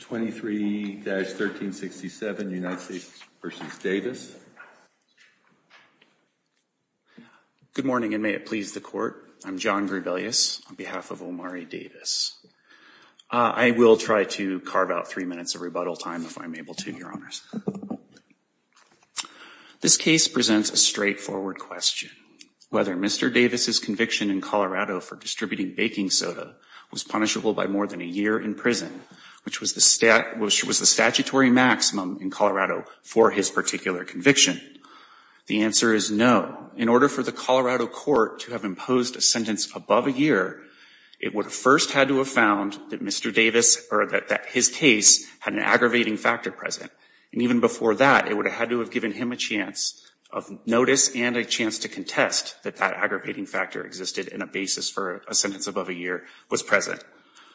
23-1367 United States v. Davis. Good morning and may it please the court. I'm John Gribelius on behalf of Omari Davis. I will try to carve out three minutes of rebuttal time if I'm able to, your honors. This case presents a straightforward question. Whether Mr. Davis's conviction in Colorado for distributing baking soda was punishable by more than a year in prison, which was the statutory maximum in Colorado for his particular conviction. The answer is no. In order for the Colorado court to have imposed a sentence above a year, it would have first had to have found that Mr. Davis or that his case had an aggravating factor present. And even before that, it would have had to have given him a chance of notice and a chance to contest that that aggravating factor existed in a basis for a sentence above a year was present.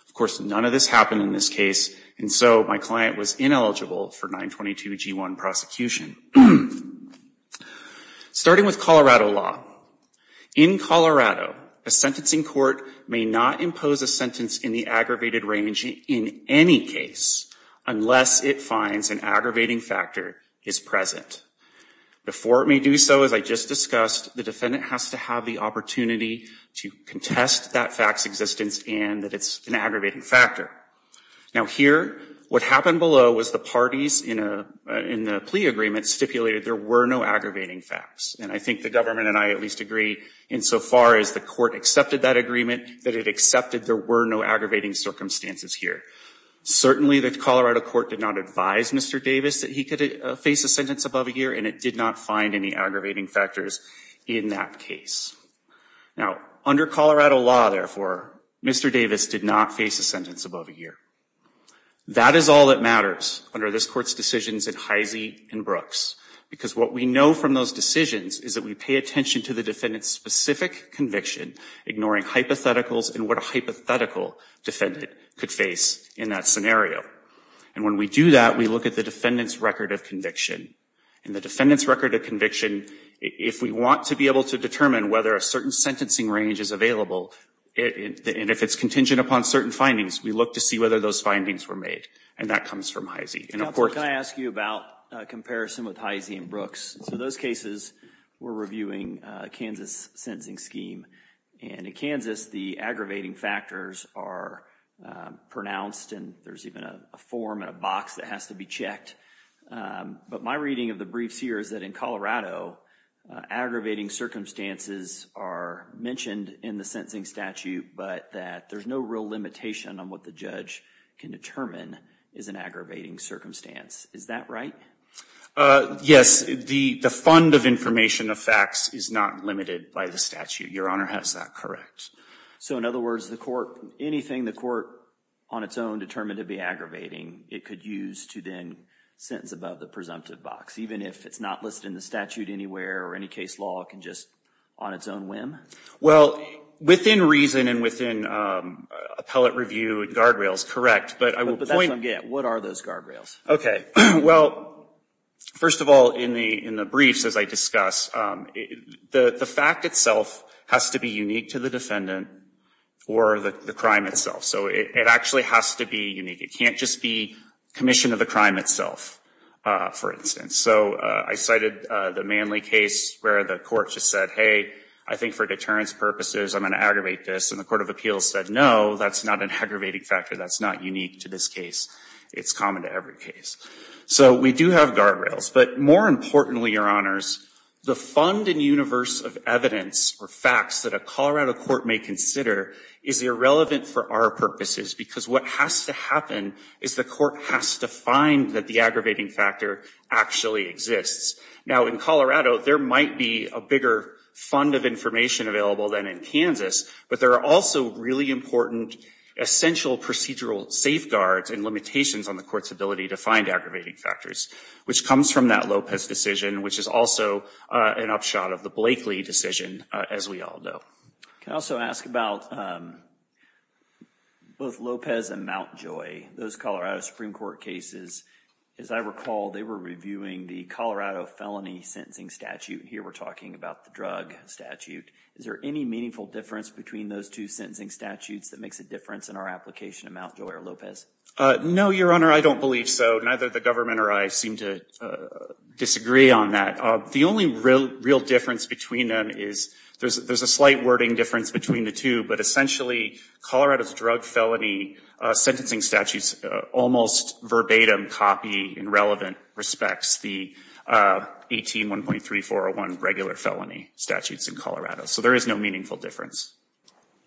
Of course, none of this happened in this case and so my client was ineligible for 922g1 prosecution. Starting with Colorado law. In Colorado, a sentencing court may not impose a sentence in the aggravated range in any case unless it finds an aggravating factor is present. Before it may do so, as I just discussed, the defendant has to have the opportunity to contest that facts existence and that it's an aggravating factor. Now here, what happened below was the parties in a plea agreement stipulated there were no aggravating facts. And I think the government and I at least agree insofar as the court accepted that agreement that it accepted there were no aggravating circumstances here. Certainly the Colorado court did not advise Mr. Davis that he could face a sentence above a year and it did not find any aggravating factors in that case. Now under Colorado law, therefore, Mr. Davis did not face a sentence above a year. That is all that matters under this court's decisions in Heise and Brooks because what we know from those decisions is that we pay attention to the defendant's specific conviction, ignoring hypotheticals and what a hypothetical defendant could face in that scenario. And when we do that, we look at the defendant's record of conviction. And the defendant's record of conviction, if we want to be able to determine whether a certain sentencing range is available, and if it's contingent upon certain findings, we look to see whether those findings were made. And that comes from Heise. Can I ask you about comparison with Heise and Brooks? So those cases we're reviewing Kansas sentencing scheme and in Kansas the aggravating factors are pronounced and there's even a form in a box that has to be checked. But my reading of the briefs here is that in Colorado, aggravating circumstances are mentioned in the sentencing statute, but that there's no real limitation on what the judge can determine is an aggravating circumstance. Is that right? Yes, the fund of information of facts is not limited by the statute, Your Honor. How is that correct? So in other words, the court, anything the court on its own determined to be aggravating, it could use to then sentence above the presumptive box, even if it's not listed in the statute anywhere or any case law can just on its own whim? Well, within reason and within appellate review and guardrails, correct. But I will point out again, what are those guardrails? Okay, well, first of all, in the briefs, as I discussed, the fact itself has to be unique to the defendant or the crime itself. So it actually has to be unique. It can't just be commission of the crime itself, for instance. So I cited the Manley case where the court just said, hey, I think for deterrence purposes, I'm going to aggravate this. And the Court of Appeals said, no, that's not an aggravating factor. That's not unique to this case. It's common to every case. So we do have guardrails. But more importantly, Your Honors, the fund and universe of evidence or facts that a Colorado court may consider is irrelevant for our purposes. Because what has to happen is the court has to find that the aggravating factor actually exists. Now, in Colorado, there might be a bigger fund of information available than in Kansas. But there are also really important essential procedural safeguards and limitations on the court's ability to find aggravating factors, which comes from that Lopez decision, which is also an upshot of the Blakeley decision, as we all know. Can I also ask about both Lopez and Mountjoy, those Colorado Supreme Court cases. As I recall, they were reviewing the Colorado felony sentencing statute. Here we're talking about the drug statute. Is there any meaningful difference between those two sentencing statutes that makes a difference in our application of Mountjoy or Lopez? No, Your Honor, I don't believe so. Neither the government or I seem to disagree on that. The only real difference between them is, there's a slight wording difference between the two, but essentially Colorado's drug felony sentencing statutes almost verbatim copy in relevant respects the 18-1.3401 regular felony statutes in Colorado. So there is no meaningful difference.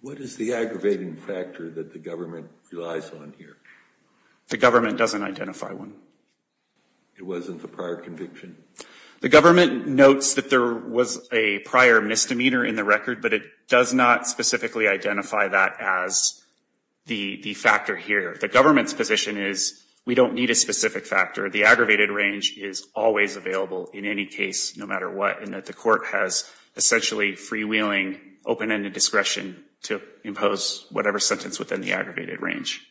What is the aggravating factor that the government relies on here? The government doesn't identify one. It wasn't the prior conviction? The government notes that there was a prior misdemeanor in the record, but it does not specifically identify that as the factor here. The government's position is, we don't need a specific factor. The aggravated range is always available in any case, no matter what, and that the court has essentially free-wheeling open-ended discretion to impose whatever sentence within the aggravated range.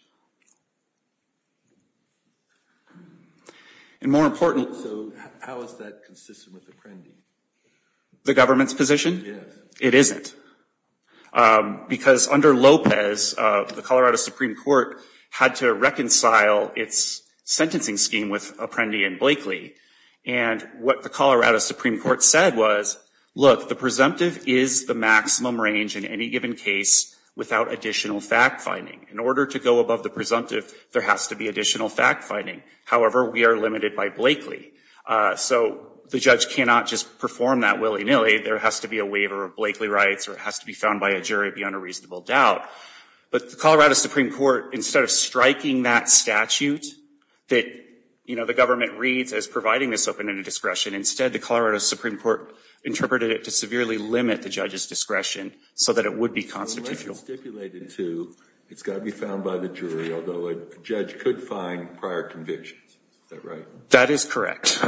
And more important, the government's position? It isn't. Because under Lopez, the Colorado Supreme Court had to reconcile its sentencing scheme with Apprendi and Blakely, and what the Colorado Supreme Court said was, look, the presumptive is the maximum range in any given case without additional fact-finding. In order to go above the presumptive, there has to be additional fact-finding. However, we are limited by Blakely. So the judge cannot just perform that willy-nilly. There has to be a waiver of Blakely rights, or it has to be found by a jury beyond a reasonable doubt. But the Colorado Supreme Court, instead of striking that statute that, you know, the government reads as providing this open-ended discretion, instead the Colorado Supreme Court interpreted it to severely limit the judge's discretion so that it would be constitutional. But unless you stipulate it to, it's got to be found by the jury, although a judge could find prior convictions. Is that right? That is correct.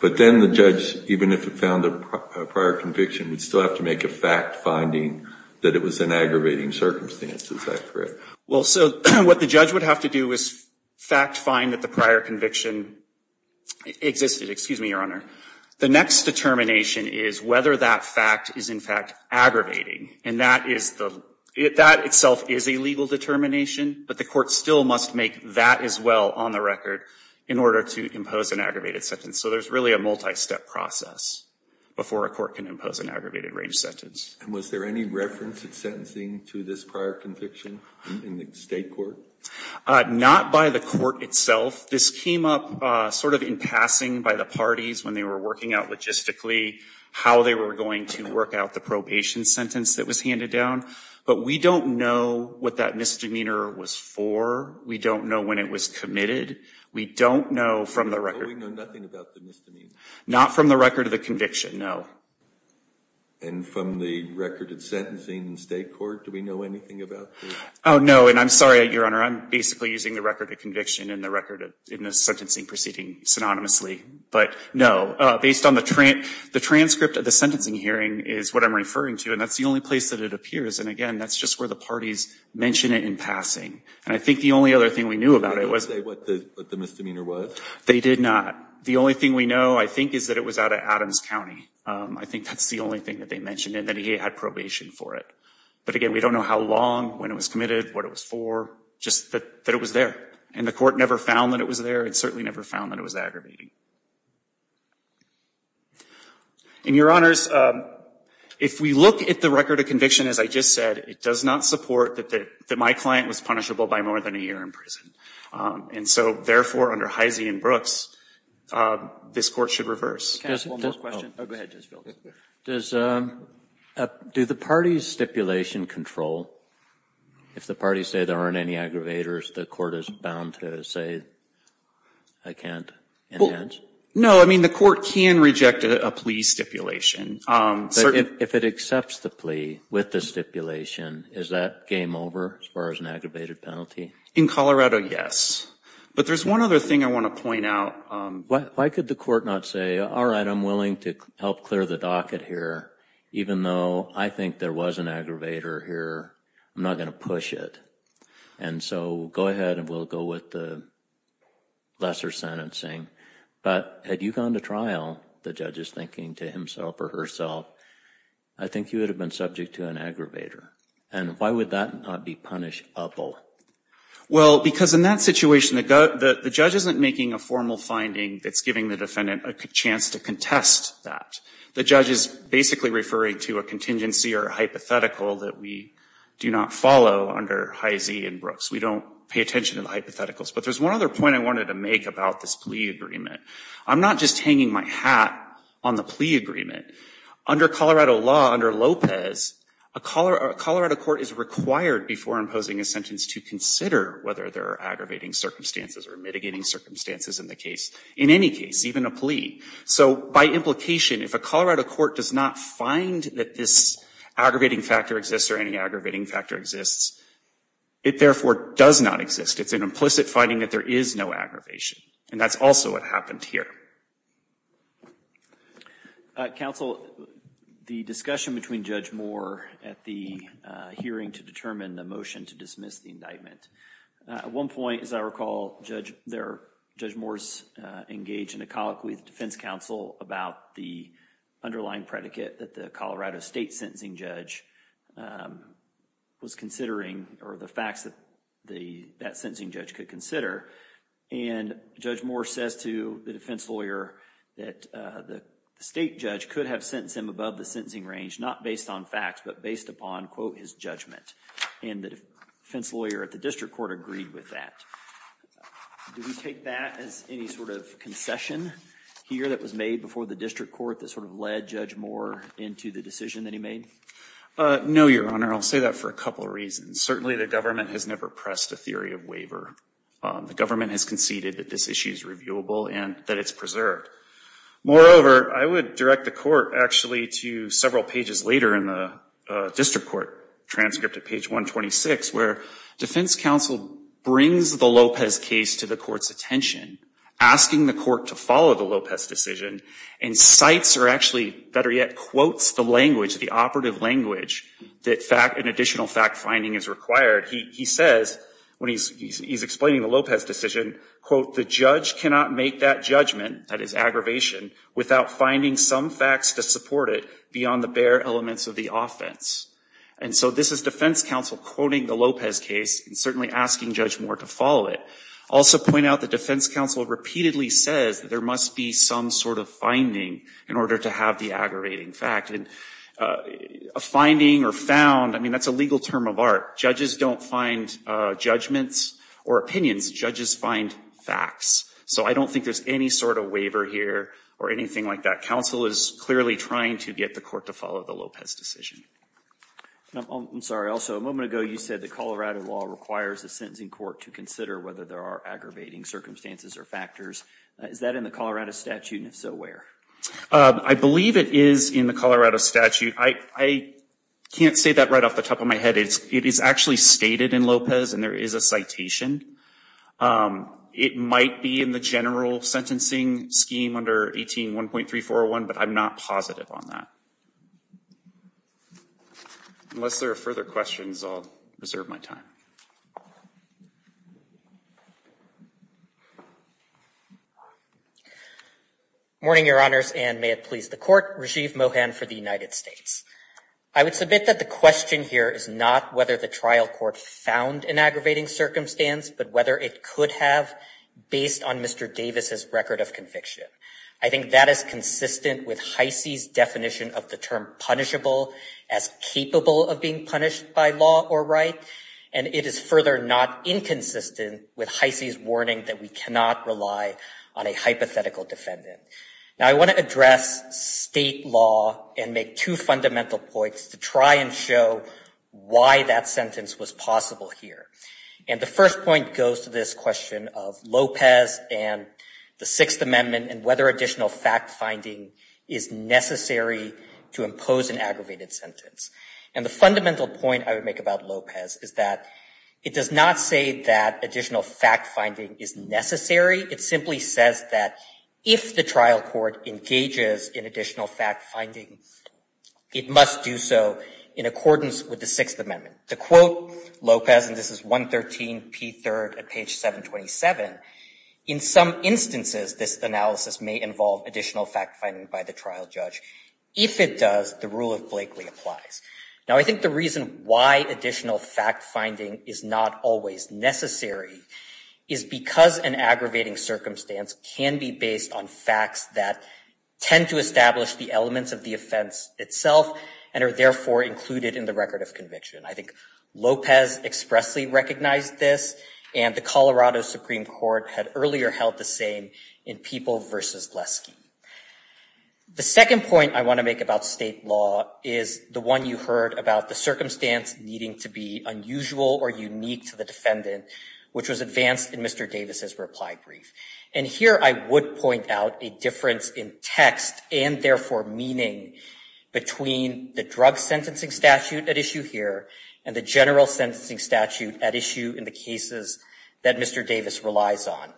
But then the judge, even if it found a prior conviction, would still have to make a fact-finding that it was an aggravating circumstance. Is that correct? Well, so what the judge would have to do is fact-find that the prior conviction existed. Excuse me, Your Honor. The next determination is whether that fact is, in fact, an aggravating. And that itself is a legal determination, but the court still must make that as well on the record in order to impose an aggravated sentence. So there's really a multi-step process before a court can impose an aggravated range sentence. And was there any reference at sentencing to this prior conviction in the state court? Not by the court itself. This came up sort of in passing by the parties when they were working out logistically how they were going to work out the probation sentence that was handed down. But we don't know what that misdemeanor was for. We don't know when it was committed. We don't know from the record. So we know nothing about the misdemeanor? Not from the record of the conviction, no. And from the record at sentencing in state court, do we know anything about this? Oh, no. And I'm sorry, Your Honor. I'm basically using the record of conviction and the record in the sentencing proceeding synonymously. But no. Based on the transcript of the sentencing hearing is what I'm referring to. And that's the only place that it appears. And again, that's just where the parties mention it in passing. And I think the only other thing we knew about it was... They didn't say what the misdemeanor was? They did not. The only thing we know, I think, is that it was out of Adams County. I think that's the only thing that they mentioned, and that he had probation for it. But again, we don't know how long, when it was committed, what it was for. Just that it was there. And the court never found that it was there. It certainly never found that it was aggravating. And, Your Honors, if we look at the record of conviction, as I just said, it does not support that my client was punishable by more than a year in prison. And so, therefore, under Heise and Brooks, this court should reverse. Can I ask one more question? Oh, go ahead, Judge Fields. Do the parties' stipulation control? If the parties say there aren't any aggravators, the court is bound to say, I can't enhance? No, I mean, the court can reject a plea stipulation. If it accepts the plea with the stipulation, is that game over, as far as an aggravated penalty? In Colorado, yes. But there's one other thing I want to point out. Why could the court not say, all right, I'm willing to help clear the docket here, even though I think there was an aggravator here, I'm not going to push it. And so, go ahead, and we'll go with the lesser sentencing. But had you gone to trial, the judge is thinking to himself or herself, I think you would have been subject to an aggravator. And why would that not be punishable? Well, because in that situation, the judge isn't making a formal finding that's giving the defendant a chance to contest that. The judge is basically referring to a contingency or hypothetical that we do not follow under Hy-Zee and Brooks. We don't pay attention to the hypotheticals. But there's one other point I wanted to make about this plea agreement. I'm not just hanging my hat on the plea agreement. Under Colorado law, under Lopez, a Colorado court is required before imposing a sentence to consider whether there are So, by implication, if a Colorado court does not find that this aggravating factor exists or any aggravating factor exists, it therefore does not exist. It's an implicit finding that there is no aggravation. And that's also what happened here. Counsel, the discussion between Judge Moore at the hearing to determine the motion to dismiss the indictment, at one point, as I recall, Judge Moore's engaged in a dialogue with the defense counsel about the underlying predicate that the Colorado state sentencing judge was considering, or the facts that that sentencing judge could consider. And Judge Moore says to the defense lawyer that the state judge could have sentenced him above the sentencing range, not based on facts, but based upon, quote, his judgment. And the defense lawyer at the district court agreed with that. Do we take that as any sort of concession here that was made before the district court that sort of led Judge Moore into the decision that he made? No, Your Honor. I'll say that for a couple of reasons. Certainly, the government has never pressed a theory of waiver. The government has conceded that this issue is reviewable and that it's preserved. Moreover, I would direct the court, actually, to several pages later in the district court transcript at page 126, where defense counsel brings the Lopez case to the court's attention, asking the court to follow the Lopez decision, and cites, or actually, better yet, quotes the language, the operative language that an additional fact-finding is required. He says, when he's explaining the Lopez decision, quote, the judge cannot make that judgment, that is, aggravation, without finding some facts to support it beyond the bare elements of the offense. And so this is defense counsel quoting the Lopez case and certainly asking Judge Moore to follow it. I'll also point out that defense counsel repeatedly says that there must be some sort of finding in order to have the aggravating fact. And a finding or found, I mean, that's a legal term of art. Judges don't find judgments or opinions. Judges find facts. So I don't think there's any sort of waiver here or anything like that. Counsel is clearly trying to get the court to follow the Lopez decision. I'm sorry. Also, a moment ago you said that Colorado law requires a sentencing court to consider whether there are aggravating circumstances or factors. Is that in the Colorado statute, and if so, where? I believe it is in the Colorado statute. I can't say that right off the top of my head. It is actually stated in Lopez, and there is a citation. It might be in the general sentencing scheme under 18-1.3401, but I'm not positive on that. Unless there are further questions, I'll reserve my time. Morning, Your Honors, and may it please the Court. Rajiv Mohan for the United States. I would submit that the question here is not whether the trial court found an aggravating circumstance, but whether it could have, based on Mr. Davis's record of conviction. I think that is consistent with Heise's definition of the term punishable as capable of being punished by law or right, and it is further not inconsistent with Heise's warning that we cannot rely on a hypothetical defendant. Now, I want to address state law and make two fundamental points to try and show why that sentence was possible here. And the first point goes to this question of Lopez and the Sixth Amendment, and whether additional fact-finding is necessary to impose an aggravated sentence. And the fundamental point I would make about Lopez is that it does not say that additional fact-finding is necessary. It simply says that if the trial court engages in additional fact-finding, it must do so in accordance with the Sixth Amendment. To quote Lopez, and this is 113p3rd at page 727, in some instances this analysis may involve additional fact-finding by the trial judge. If it does, the rule of Blakely applies. Now, I think the reason why additional fact-finding is not always necessary is because an aggravating circumstance can be based on facts that tend to establish the elements of the offense itself and are therefore included in the record of conviction. I think Lopez expressly recognized this, and the Colorado Supreme Court had earlier held the same in People v. Glesky. The second point I want to make about state law is the one you heard about the circumstance needing to be unusual or unique to the defendant, which was advanced in Mr. Davis's reply brief. And here I would point out a difference in text and therefore meaning between the drug sentencing statute at issue here and the general sentencing statute at issue in the cases that Mr. Davis relies on.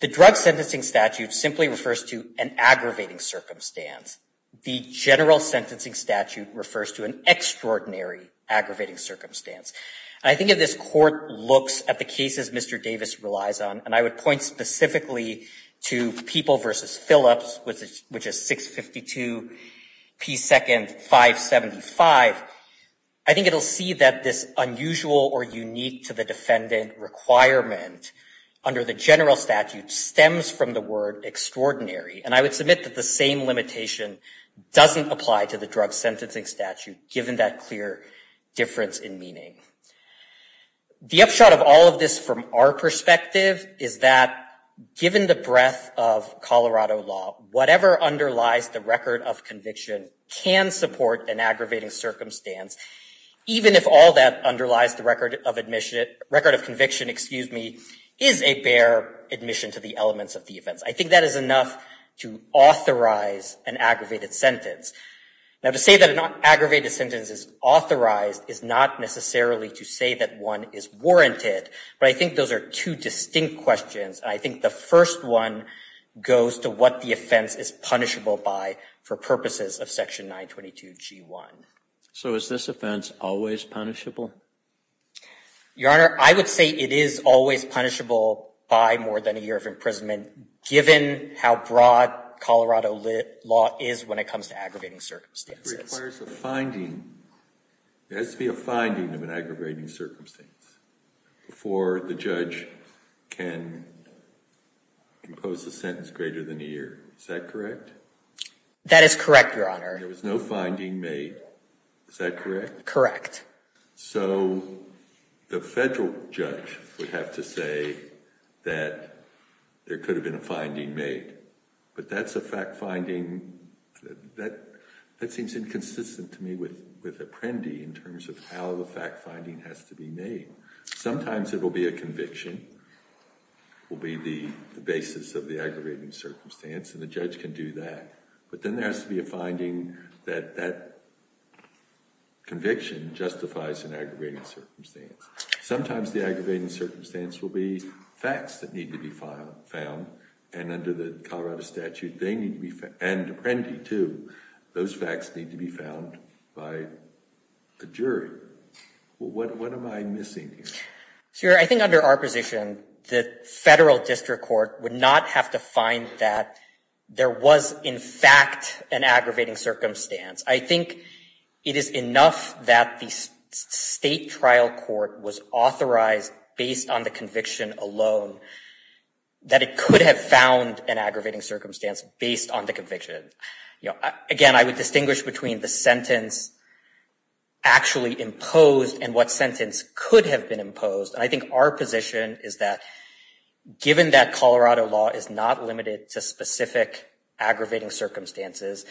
The drug sentencing statute simply refers to an aggravating circumstance. The general sentencing statute refers to an extraordinary aggravating circumstance. I think if this court looks at the cases Mr. Davis relies on, and I would point specifically to People v. Phillips, which is 652p2nd 575, I think it will see that this unusual or unique to the defendant requirement for the general statute stems from the word extraordinary. And I would submit that the same limitation doesn't apply to the drug sentencing statute, given that clear difference in meaning. The upshot of all of this from our perspective is that given the breadth of Colorado law, whatever underlies the record of conviction can support an aggravating circumstance, even if all that underlies the record of admission, record of conviction, excuse me, is a bare admission to the elements of the offense. I think that is enough to authorize an aggravated sentence. Now to say that an aggravated sentence is authorized is not necessarily to say that one is warranted, but I think those are two distinct questions. And I think the first one goes to what the offense is punishable by for purposes of section 922g1. So is this offense always punishable? Your Honor, I would say it is always punishable by more than a year of imprisonment, given how broad Colorado law is when it comes to aggravating circumstances. It requires a finding. There has to be a finding of an aggravating circumstance before the judge can impose a sentence greater than a year. Is that correct? That is correct, Your Honor. There was no finding made. Is that correct? Correct. So the federal judge would have to say that there could have been a finding made, but that is a fact finding that seems inconsistent to me with Apprendi in terms of how the fact finding has to be made. Sometimes it will be a conviction will be the basis of the aggravating circumstance and the judge can do that, but then there has to be a finding that that conviction justifies an aggravating circumstance. Sometimes the aggravating circumstance will be facts that need to be found and under the Colorado statute, and Apprendi too, those facts need to be found by a jury. What am I missing here? Your Honor, I think under our position, the federal district court would not have to find that there was in fact an aggravating circumstance. I think it is enough that the state trial court was authorized based on the conviction alone that it could have found an aggravating circumstance based on the conviction. Again, I would distinguish between the sentence actually imposed and what sentence could have been imposed. I think our position is that given that Colorado law is not limited to specific aggravating circumstances,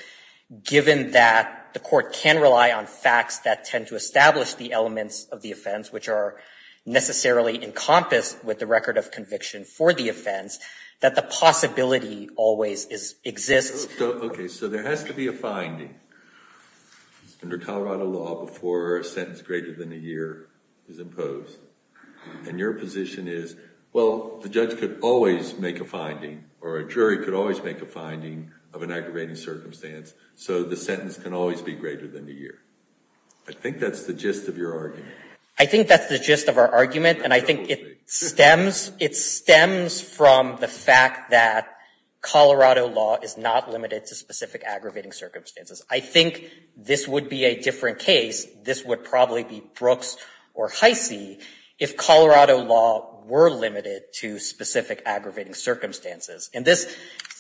given that the court can rely on facts that tend to establish the elements of the offense which are necessarily encompassed with the record of conviction for the offense, that the possibility always exists. Okay, so there has to be a finding under Colorado law before a sentence greater than a year is imposed. And your position is, well, the judge could always make a finding or a jury could always make a finding of an aggravating circumstance so the sentence can always be greater than a year. I think that's the gist of your argument. I think that's the gist of our argument. And I think it stems from the fact that Colorado law is not limited to specific aggravating circumstances. I think this would be a different case, this would probably be Brooks or Heise, if Colorado law were limited to specific aggravating circumstances. And this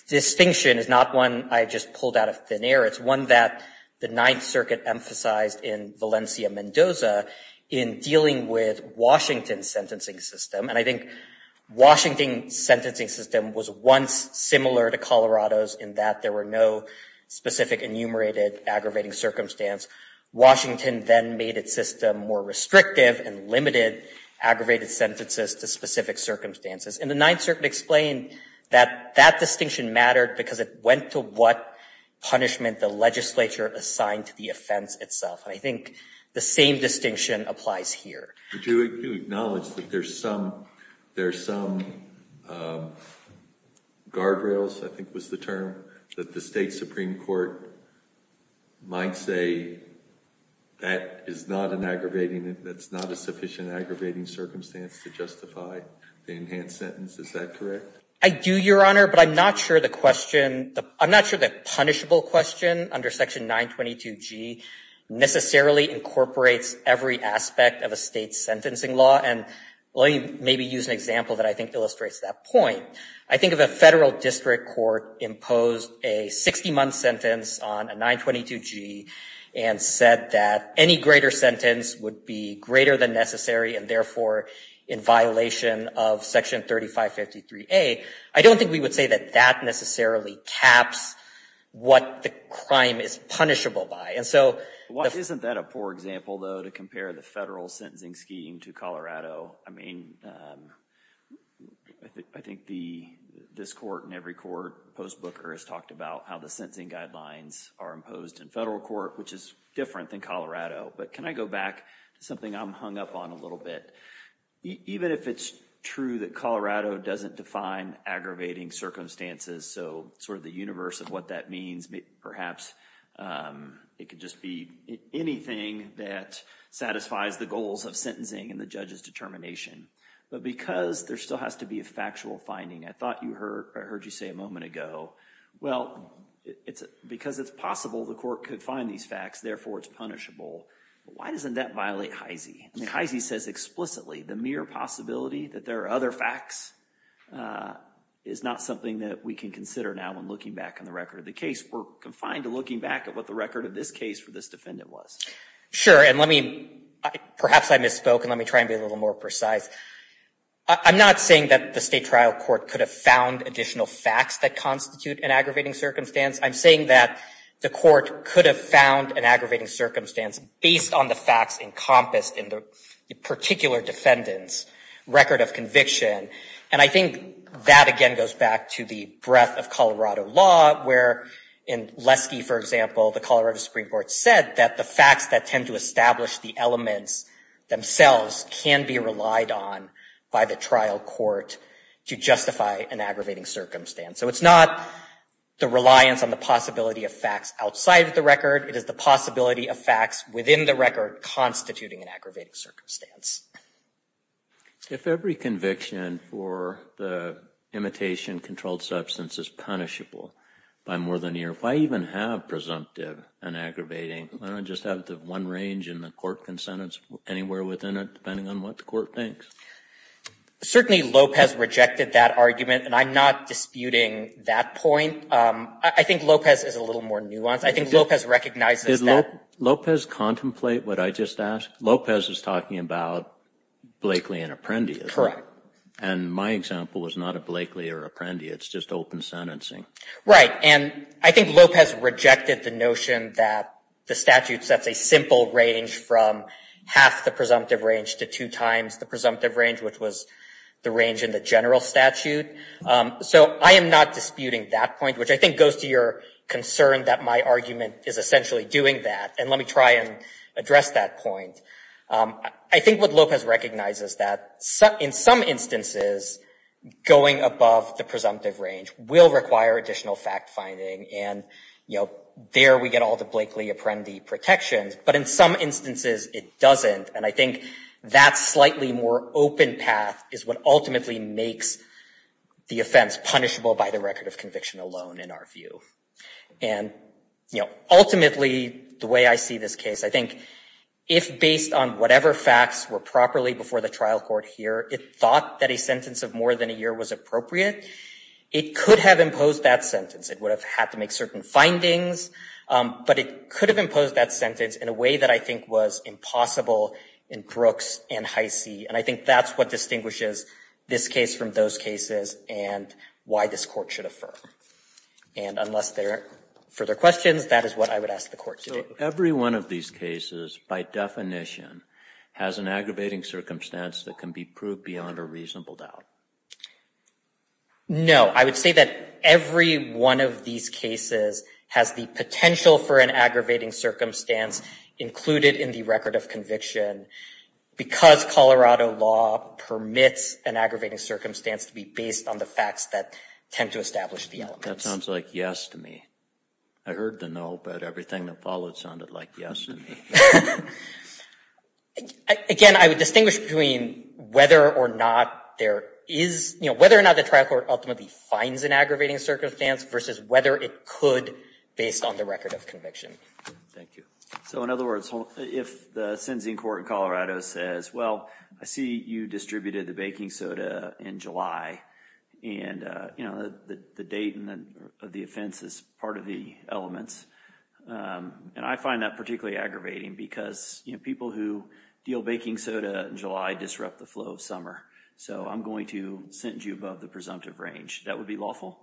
distinction is not one I just pulled out of thin air. It's one that the Ninth Circuit emphasized in Valencia-Mendoza in dealing with Washington's sentencing system. And I think Washington's sentencing system was once similar to Colorado's in that there were no specific enumerated aggravating circumstance. Washington then made its system more restrictive and limited aggravated sentences to specific circumstances. And the Ninth Circuit explained that that distinction mattered because it went to what punishment the legislature assigned to the offense itself. And I think the same distinction applies here. Do you acknowledge that there's some guardrails, I think was the term, that the state Supreme Court might say that is not an aggravating, that's not a sufficient aggravating circumstance to justify the enhanced sentence? Is that correct? I do, Your Honor, but I'm not sure the question, I'm not sure the punishable question under Section 922G necessarily incorporates every aspect of a state's sentencing law. And let me maybe use an example that I think illustrates that point. I think if a federal district court imposed a 60-month sentence on a 922G and said that any greater sentence would be greater than necessary and therefore in violation of Section 3553A, I don't think we would say that that necessarily caps what the crime is punishable by. And so... Well, isn't that a poor example, though, to compare the federal sentencing scheme to Colorado? I mean, I think this court and every court, the post booker has talked about how the sentencing guidelines are imposed in federal court, which is different than Colorado. But can I go back to something I'm hung up on a little bit? Even if it's true that Colorado doesn't define aggravating circumstances, so sort of the universe of what that means, perhaps it could just be anything that satisfies the goals of sentencing and the judge's determination. But because there still has to be a factual finding, I thought I heard you say a moment ago, well, because it's possible the court could find these facts, therefore it's punishable. Why doesn't that violate HEISI? I mean, HEISI says explicitly the mere possibility that there are other facts is not something that we can consider now when looking back on the record of the case. We're confined to looking back at what the record of this case for this defendant was. Sure, and let me... Perhaps I misspoke, and let me try and be a little more precise. I'm not saying that the state trial court could have found additional facts that constitute an aggravating circumstance. I'm saying that the court could have found an aggravating circumstance based on the facts encompassed in the particular defendant's record of conviction. And I think that, again, goes back to the breadth of Colorado law, where in Lesky, for example, the Colorado Supreme Court said that the facts that tend to establish the elements themselves can be relied on by the trial court to justify an aggravating circumstance. So it's not the reliance on the possibility of facts outside of the record. It is the possibility of facts within the record constituting an aggravating circumstance. If every conviction for the imitation-controlled substance is punishable by more than ear, why even have presumptive and aggravating? I don't just have the one range, and the court can sentence anywhere within it, depending on what the court thinks. Certainly Lopez rejected that argument, and I'm not disputing that point. I think Lopez is a little more nuanced. I think Lopez recognizes that... Did Lopez contemplate what I just asked? Lopez is talking about Blakely and Apprendi. Correct. And my example is not a Blakely or Apprendi. It's just open sentencing. Right. And I think Lopez rejected the notion that the statute sets a simple range from half the presumptive range to two times the presumptive range, which was the range in the general statute. So I am not disputing that point, which I think goes to your concern that my argument is essentially doing that. And let me try and address that point. I think what Lopez recognizes is that in some instances, going above the presumptive range will require additional fact-finding, and there we get all the Blakely-Apprendi protections, but in some instances it doesn't, and I think that slightly more open path is what ultimately makes the offense punishable by the record of conviction alone, in our view. And ultimately, the way I see this case, I think if based on whatever facts were properly before the trial court here, it thought that a sentence of more than a year was appropriate, it could have imposed that sentence. It would have had to make certain findings, but it could have imposed that sentence in a way that I think was impossible in Brooks and Heise, and I think that's what distinguishes this case from those cases and why this court should affirm. And unless there are further questions, that is what I would ask the court to do. So every one of these cases, by definition, has an aggravating circumstance that can be proved beyond a reasonable doubt? No. I would say that every one of these cases has the potential for an aggravating circumstance included in the record of conviction because Colorado law permits an aggravating circumstance to be based on the facts that tend to establish the elements. That sounds like yes to me. I heard the no, but everything that followed sounded like yes to me. Again, I would distinguish between whether or not there is, whether or not the trial court ultimately finds an aggravating circumstance versus whether it could based on the record of conviction. Thank you. So in other words, if the sentencing court in Colorado says, well, I see you distributed the baking soda in July, and the date of the offense is part of the elements, and I find that particularly aggravating because, you know, people who deal baking soda in July disrupt the flow of summer. So I'm going to send you above the presumptive range. That would be lawful?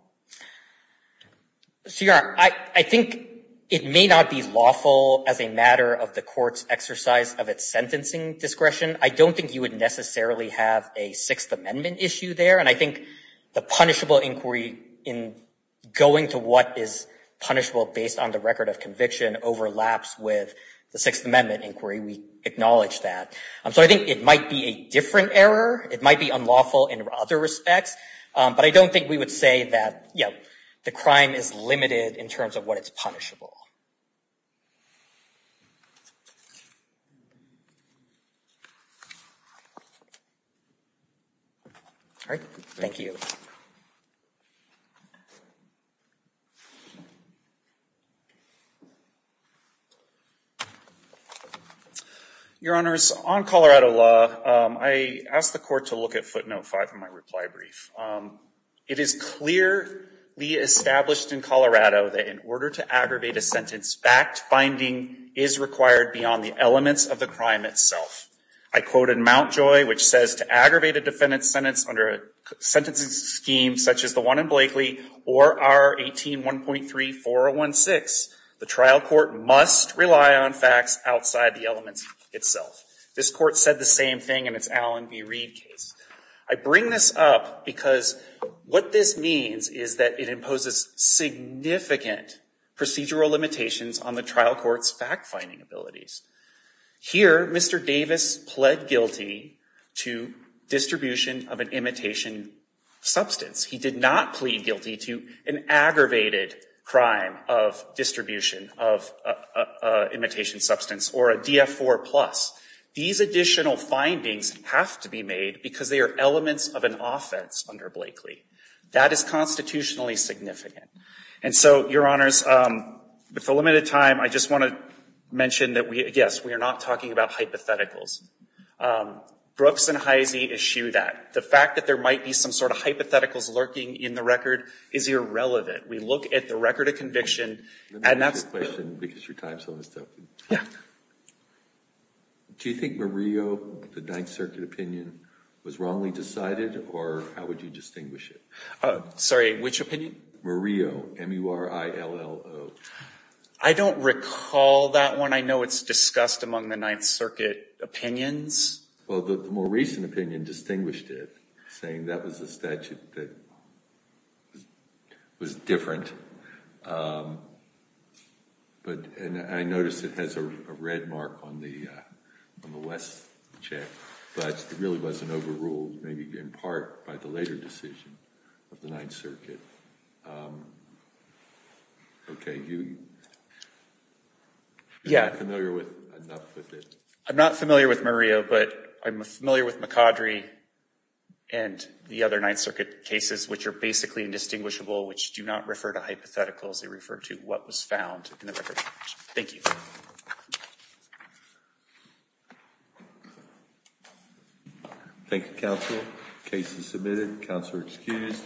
I think it may not be lawful as a matter of the court's exercise of its sentencing discretion. I don't think you would necessarily have a Sixth Amendment issue there, and I think the punishable inquiry in going to what is punishable based on the record of conviction overlaps with the Sixth Amendment inquiry. We acknowledge that. So I think it might be a different error. It might be unlawful in other respects, but I don't think we would say that, you know, the crime is limited in terms of what is punishable. All right. Thank you. Your Honors, on Colorado law, I asked the court to look at footnote 5 in my reply brief. It is clearly established in Colorado that in order to aggravate a sentence fact-finding is required beyond the elements of the crime itself. I quote in Mount Joy, which says, to aggravate a defendant's sentence under a sentencing scheme such as the one in Blakely or R-18-1.3-4016, the trial court must rely on facts outside the elements itself. This court said the same thing in its Allen v. Reed case. I bring this up because what this means is that it imposes significant procedural limitations on the trial court's fact-finding abilities. Here, Mr. Davis pled guilty to distribution of an imitation substance. He did not plead guilty to an aggravated crime of distribution of imitation substance or a DF-4+. These additional findings have to be made because they are elements of an offense under Blakely. That is constitutionally significant. And so, Your Honors, with the limited time, I just want to mention that we, yes, we are not talking about hypotheticals. Brooks and Heise issue that. The fact that there might be some sort of hypotheticals lurking in the record is irrelevant. We look at the record of conviction and that's- Let me ask you a question because your time's almost up. Yeah. Do you think Murillo, the Ninth Circuit opinion, was wrongly decided or how would you distinguish it? Sorry, which opinion? Murillo, M-U-R-I-L-L-O. I don't recall that one. I know it's discussed among the Ninth Circuit opinions. Well, the more recent opinion distinguished it, saying that was a statute that was different. But I noticed it has a red mark on the West check, but it really wasn't overruled, maybe in part by the later decision of the Ninth Circuit. Okay, you- Yeah. Are you familiar enough with it? I'm not familiar with Murillo, but I'm familiar with McCaudrey and the other Ninth Circuit cases, which are basically indistinguishable, which do not refer to hypotheticals. They refer to what was found in the record. Thank you. Thank you. Thank you, counsel. Case is submitted. Counselor excused.